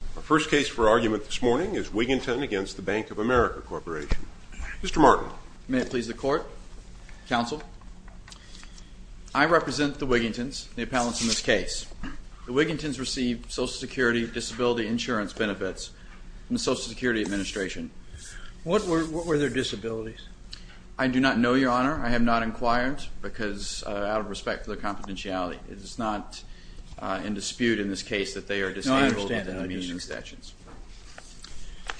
The first case for argument this morning is Wigginton v. Bank of America Corporation. Mr. Martin. May it please the Court, Counsel. I represent the Wiggintons, the appellants in this case. The Wiggintons received Social Security Disability Insurance benefits from the Social Security Administration. What were their disabilities? I do not know, Your Honor. I have not inquired because out of respect for their confidentiality. It is not in dispute in this case that they are disabled. I understand. I understand.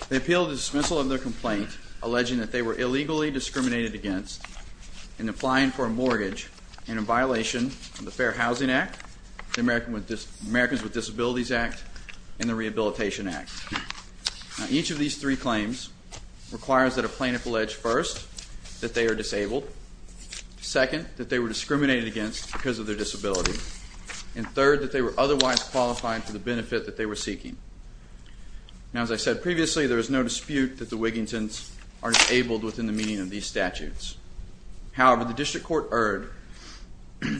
They appealed the dismissal of their complaint alleging that they were illegally discriminated against in applying for a mortgage and in violation of the Fair Housing Act, the Americans with Disabilities Act, and the Rehabilitation Act. Each of these three claims requires that a plaintiff allege first that they are disabled, second that they were discriminated against because of their disability, and third that they were otherwise qualified for the benefit that they were seeking. Now, as I said previously, there is no dispute that the Wiggintons are disabled within the meaning of these statutes. However, the District Court erred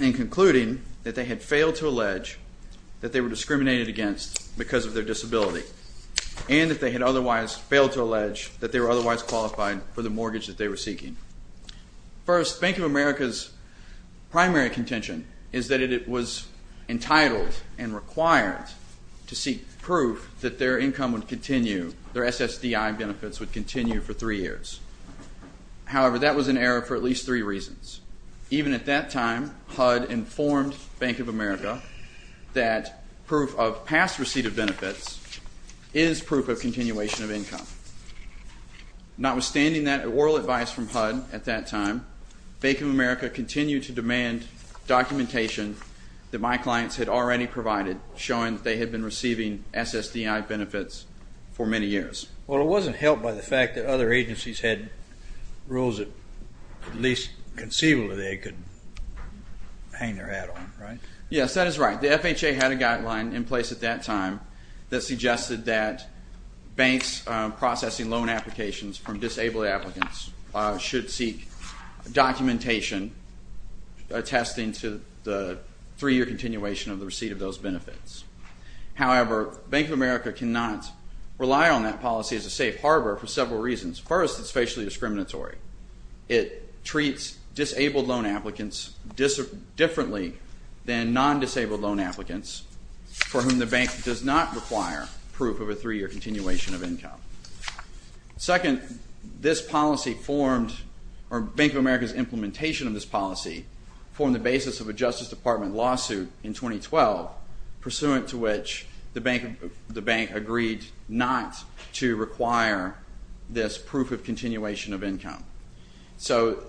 in concluding that they had failed to allege that they were discriminated against because of their disability and that they had otherwise failed to allege that they were otherwise qualified for the mortgage that they were seeking. First, Bank of America's primary contention is that it was entitled and required to seek proof that their income would continue, their SSDI benefits would continue for three years. However, that was an error for at least three reasons. Even at that time, HUD informed Bank of America that proof of past receipt of benefits is proof of continuation of income. Notwithstanding that oral advice from HUD at that time, Bank of America continued to demand documentation that my clients had already provided, showing that they had been receiving SSDI benefits for many years. Well, it wasn't helped by the fact that other agencies had rules that, at least conceivably, they could hang their hat on, right? Yes, that is right. The FHA had a guideline in place at that time that suggested that banks processing loan applications from disabled applicants should seek documentation attesting to the three-year continuation of the receipt of those benefits. However, Bank of America cannot rely on that policy as a safe harbor for several reasons. First, it's facially discriminatory. It treats disabled loan applicants differently than non-disabled loan applicants for whom the bank does not require proof of a three-year continuation of income. Second, this policy formed, or Bank of America's implementation of this policy formed the basis of a Justice Department lawsuit in 2012, pursuant to which the bank agreed not to require this So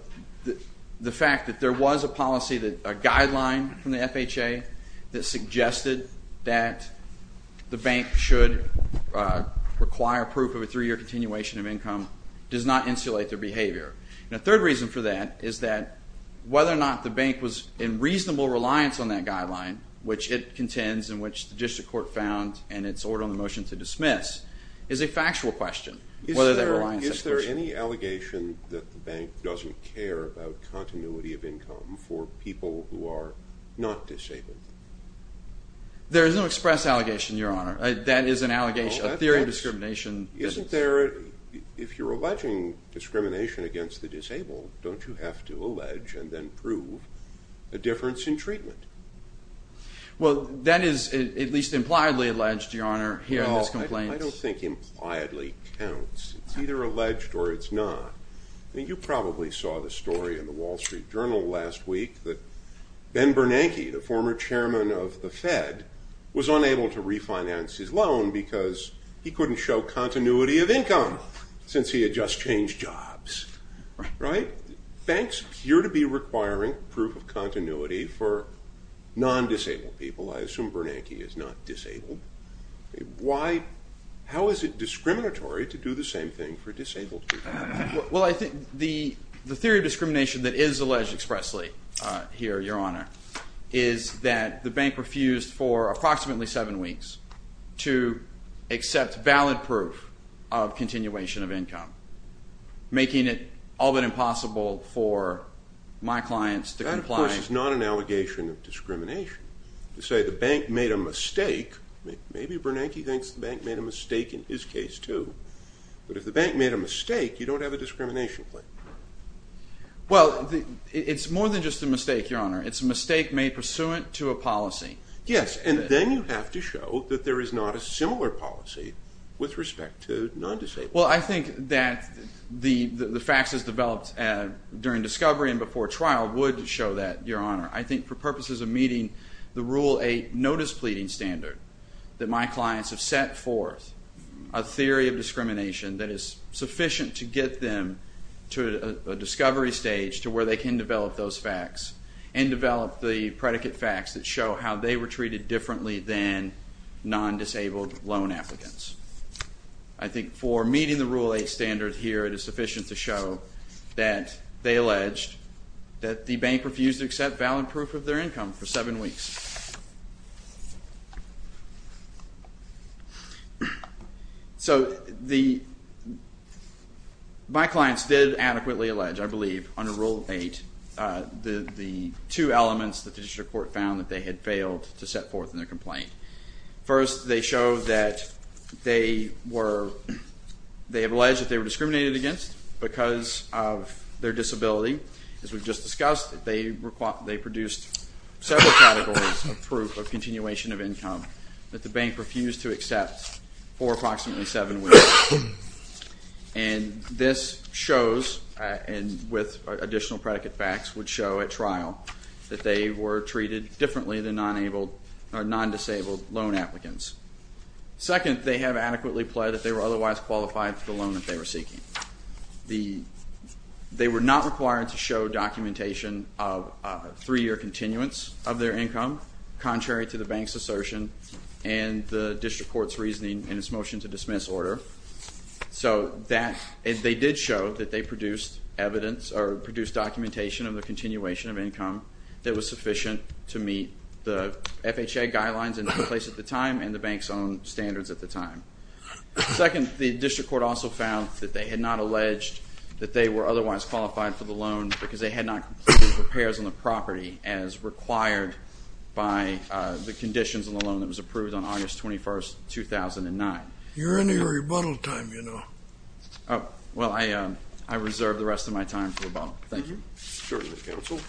the fact that there was a policy, a guideline from the FHA that suggested that the bank should require proof of a three-year continuation of income does not insulate their behavior. And a third reason for that is that whether or not the bank was in reasonable reliance on that guideline, which it contends, and which the district court found in its order on the motion to dismiss, is a factual question. Is there any allegation that the bank doesn't care about continuity of income for people who are not disabled? There is no express allegation, Your Honor. That is an allegation, a theory of discrimination. If you're alleging discrimination against the disabled, don't you have to allege and then prove a difference in treatment? Well that is at least impliedly alleged, Your Honor, here in this complaint. I don't think impliedly counts. It's either alleged or it's not. You probably saw the story in the Wall Street Journal last week that Ben Bernanke, the former chairman of the Fed, was unable to refinance his loan because he couldn't show continuity of income, since he had just changed jobs, right? Banks appear to be requiring proof of continuity for non-disabled people. I assume Bernanke is not disabled. Why, how is it discriminatory to do the same thing for disabled people? Well I think the theory of discrimination that is alleged expressly here, Your Honor, is that the bank refused for approximately seven weeks to accept valid proof of continuation of income, making it all but impossible for my clients to comply. That of course is not an allegation of discrimination. To say the bank made a mistake, maybe Bernanke thinks the bank made a mistake in his case too, but if the bank made a mistake, you don't have a discrimination claim. Well it's more than just a mistake, Your Honor. It's a mistake made pursuant to a policy. Yes, and then you have to show that there is not a similar policy with respect to non-disabled. Well I think that the faxes developed during discovery and before trial would show that, Your Honor. I think for purposes of meeting the Rule 8 notice pleading standard, that my clients have set forth a theory of discrimination that is sufficient to get them to a discovery stage to where they can develop those fax and develop the predicate fax that show how they were treated differently than non-disabled loan applicants. I think for meeting the Rule 8 standard here, it is sufficient to show that they alleged that the bank refused to accept valid proof of their income for seven weeks. So my clients did adequately allege, I believe, under Rule 8, the two elements that the district court found that they had failed to set forth in their complaint. First they showed that they have alleged that they were discriminated against because of their disability. As we've just discussed, they produced several categories of proof of continuation of income that the bank refused to accept for approximately seven weeks. And this shows, and with additional predicate fax would show at trial, that they were treated differently than non-disabled loan applicants. Second, they have adequately pled that they were otherwise qualified for the loan that they were seeking. They were not required to show documentation of a three-year continuance of their income contrary to the bank's assertion and the district court's reasoning in its motion to dismiss order. So they did show that they produced evidence or produced documentation of the continuation of income that was sufficient to meet the FHA guidelines in place at the time and the bank's own standards at the time. Second, the district court also found that they had not alleged that they were otherwise qualified for the loan because they had not completed repairs on the property as required by the conditions on the loan that was approved on August 21st, 2009. You're in your rebuttal time, you know. Well, I reserve the rest of my time for rebuttal. Thank you. Certainly, counsel.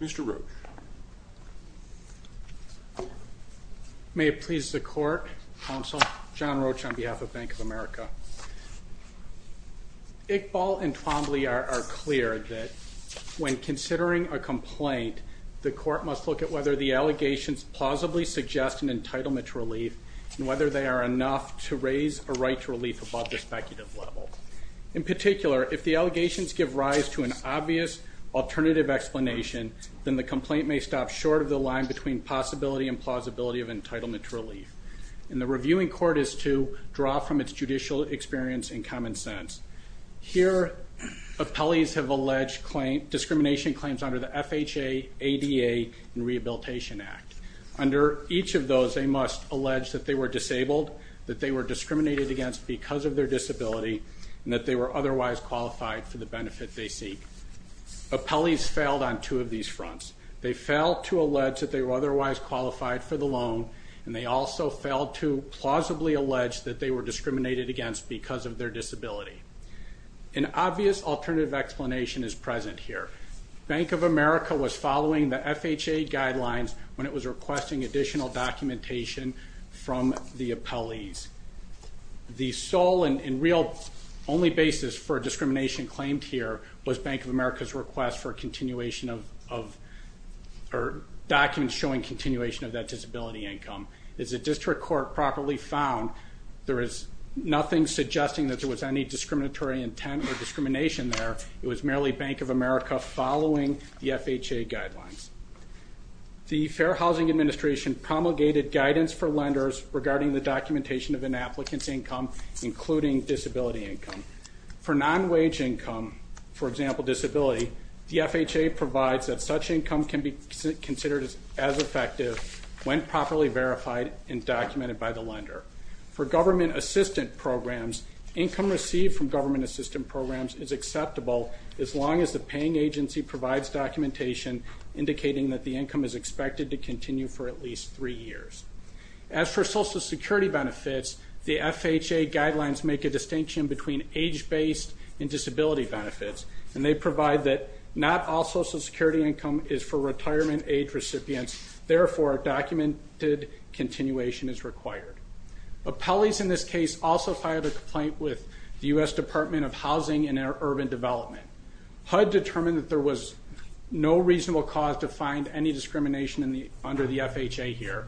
Mr. Roach. May it please the court, counsel, John Roach on behalf of Bank of America. Iqbal and Twombly are clear that when considering a complaint, the court must look at whether the allegations plausibly suggest an entitlement to relief and whether they are enough to raise a right to relief above the speculative level. In particular, if the allegations give rise to an obvious alternative explanation, then the complaint may stop short of the line between possibility and plausibility of entitlement to relief. And the reviewing court is to draw from its judicial experience and common sense. Here, appellees have alleged discrimination claims under the FHA, ADA, and Rehabilitation Act. Under each of those, they must allege that they were disabled, that they were discriminated against because of their disability, and that they were otherwise qualified for the benefit they seek. Appellees failed on two of these fronts. They failed to allege that they were otherwise qualified for the loan, and they also failed to plausibly allege that they were discriminated against because of their disability. An obvious alternative explanation is present here. Bank of America was following the FHA guidelines when it was requesting additional documentation from the appellees. The sole and real only basis for discrimination claimed here was Bank of America's request for a continuation of, or documents showing continuation of that disability income. As the district court properly found, there is nothing suggesting that there was any discriminatory intent or discrimination there. It was merely Bank of America following the FHA guidelines. The Fair Housing Administration promulgated guidance for lenders regarding the documentation of an applicant's income, including disability income. For non-wage income, for example, disability, the FHA provides that such income can be considered as effective when properly verified and documented by the lender. For government assistant programs, income received from government assistant programs is acceptable as long as the paying agency provides documentation indicating that the income is expected to continue for at least three years. As for Social Security benefits, the FHA guidelines make a distinction between age-based and disability benefits, and they provide that not all Social Security income is for retirement age recipients, therefore a documented continuation is required. Appellees in this case also filed a complaint with the U.S. Department of Housing and Urban Development. HUD determined that there was no reasonable cause to find any discrimination under the FHA here.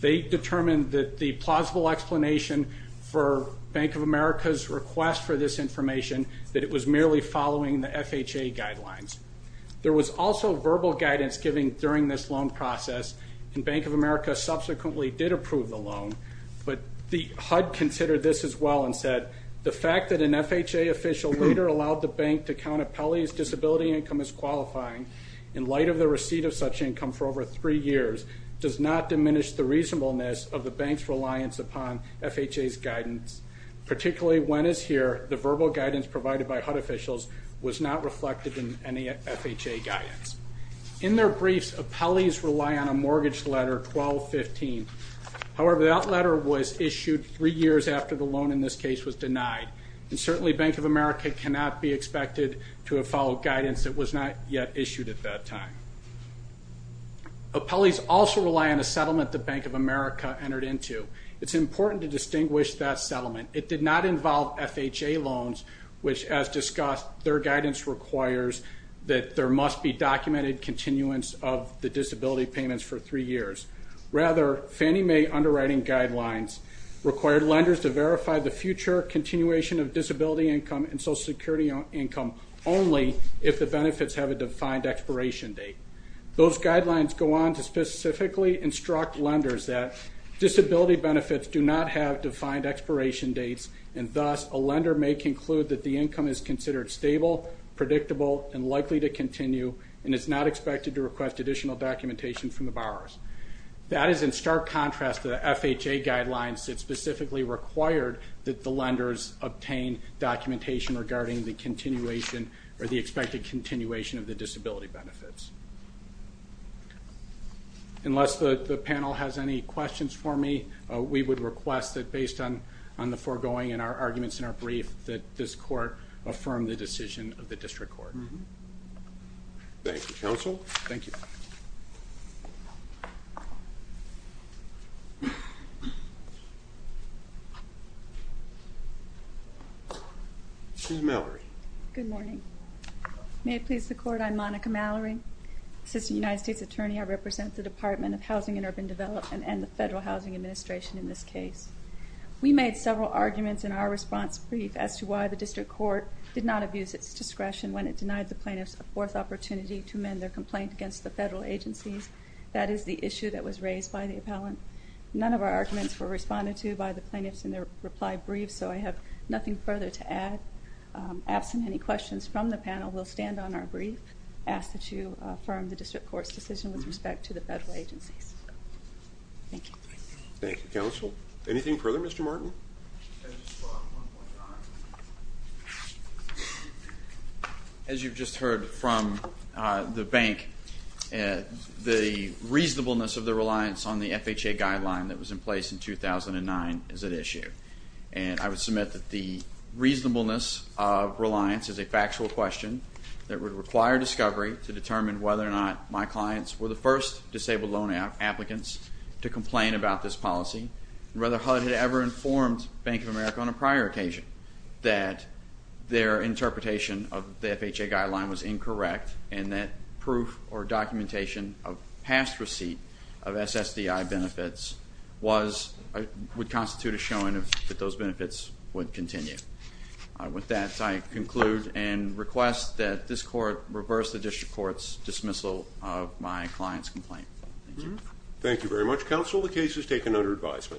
They determined that the plausible explanation for Bank of America's request for this information, that it was merely following the FHA guidelines. There was also verbal guidance given during this loan process, and Bank of America subsequently did approve the loan, but HUD considered this as well and said, the fact that an FHA official later allowed the bank to count appellees' disability income as qualifying, in light of the receipt of such income for over three years, does not diminish the reasonableness of the bank's reliance upon FHA's guidance, particularly when, as here, the verbal guidance provided by HUD officials was not reflected in any FHA guidance. In their briefs, appellees rely on a mortgage letter 1215, however that letter was issued three years after the loan in this case was denied, and certainly Bank of America cannot be expected to have followed guidance that was not yet issued at that time. Appellees also rely on a settlement that Bank of America entered into. It's important to distinguish that settlement. It did not involve FHA loans, which as discussed, their guidance requires that there must be documented continuance of the disability payments for three years. Rather, Fannie Mae underwriting guidelines required lenders to verify the future continuation of disability income and Social Security income only if the benefits have a defined expiration date. Those guidelines go on to specifically instruct lenders that disability benefits do not have defined expiration dates, and thus a lender may conclude that the income is considered stable, predictable, and likely to continue, and it's not expected to request additional documentation from the borrowers. That is in stark contrast to the FHA guidelines that specifically required that the lenders obtain documentation regarding the continuation or the expected continuation of the disability benefits. Unless the panel has any questions for me, we would request that based on the foregoing and our arguments in our brief, that this court affirm the decision of the District Court. Thank you, Counsel. Thank you. Ms. Mallory. Good morning. May it please the Court, I'm Monica Mallory, Assistant United States Attorney. I represent the Department of Housing and Urban Development and the Federal Housing Administration in this case. We made several arguments in our response brief as to why the District Court did not abuse its discretion when it denied the plaintiffs a fourth opportunity to amend their complaint against the federal agencies. That is the issue that was raised by the appellant. None of our arguments were responded to by the plaintiffs in their reply brief, so I have nothing further to add. Absent any questions from the panel, we'll stand on our brief, ask that you affirm the District Court's decision with respect to the federal agencies. Thank you. Thank you, Counsel. Anything further, Mr. Martin? As you've just heard from the bank, the reasonableness of the reliance on the FHA guideline that was in place in 2009 is at issue, and I would submit that the reasonableness of reliance is a factual question that would require discovery to determine whether or not my clients were the first disabled loan applicants to complain about this policy, whether HUD had ever informed Bank of America on a prior occasion that their interpretation of the FHA guideline was incorrect and that proof or documentation of past receipt of SSDI benefits would constitute a showing that those benefits would continue. With that, I conclude and request that this Court reverse the District Court's dismissal of my client's complaint. Thank you. Thank you very much, Counsel. The case is taken under advisement.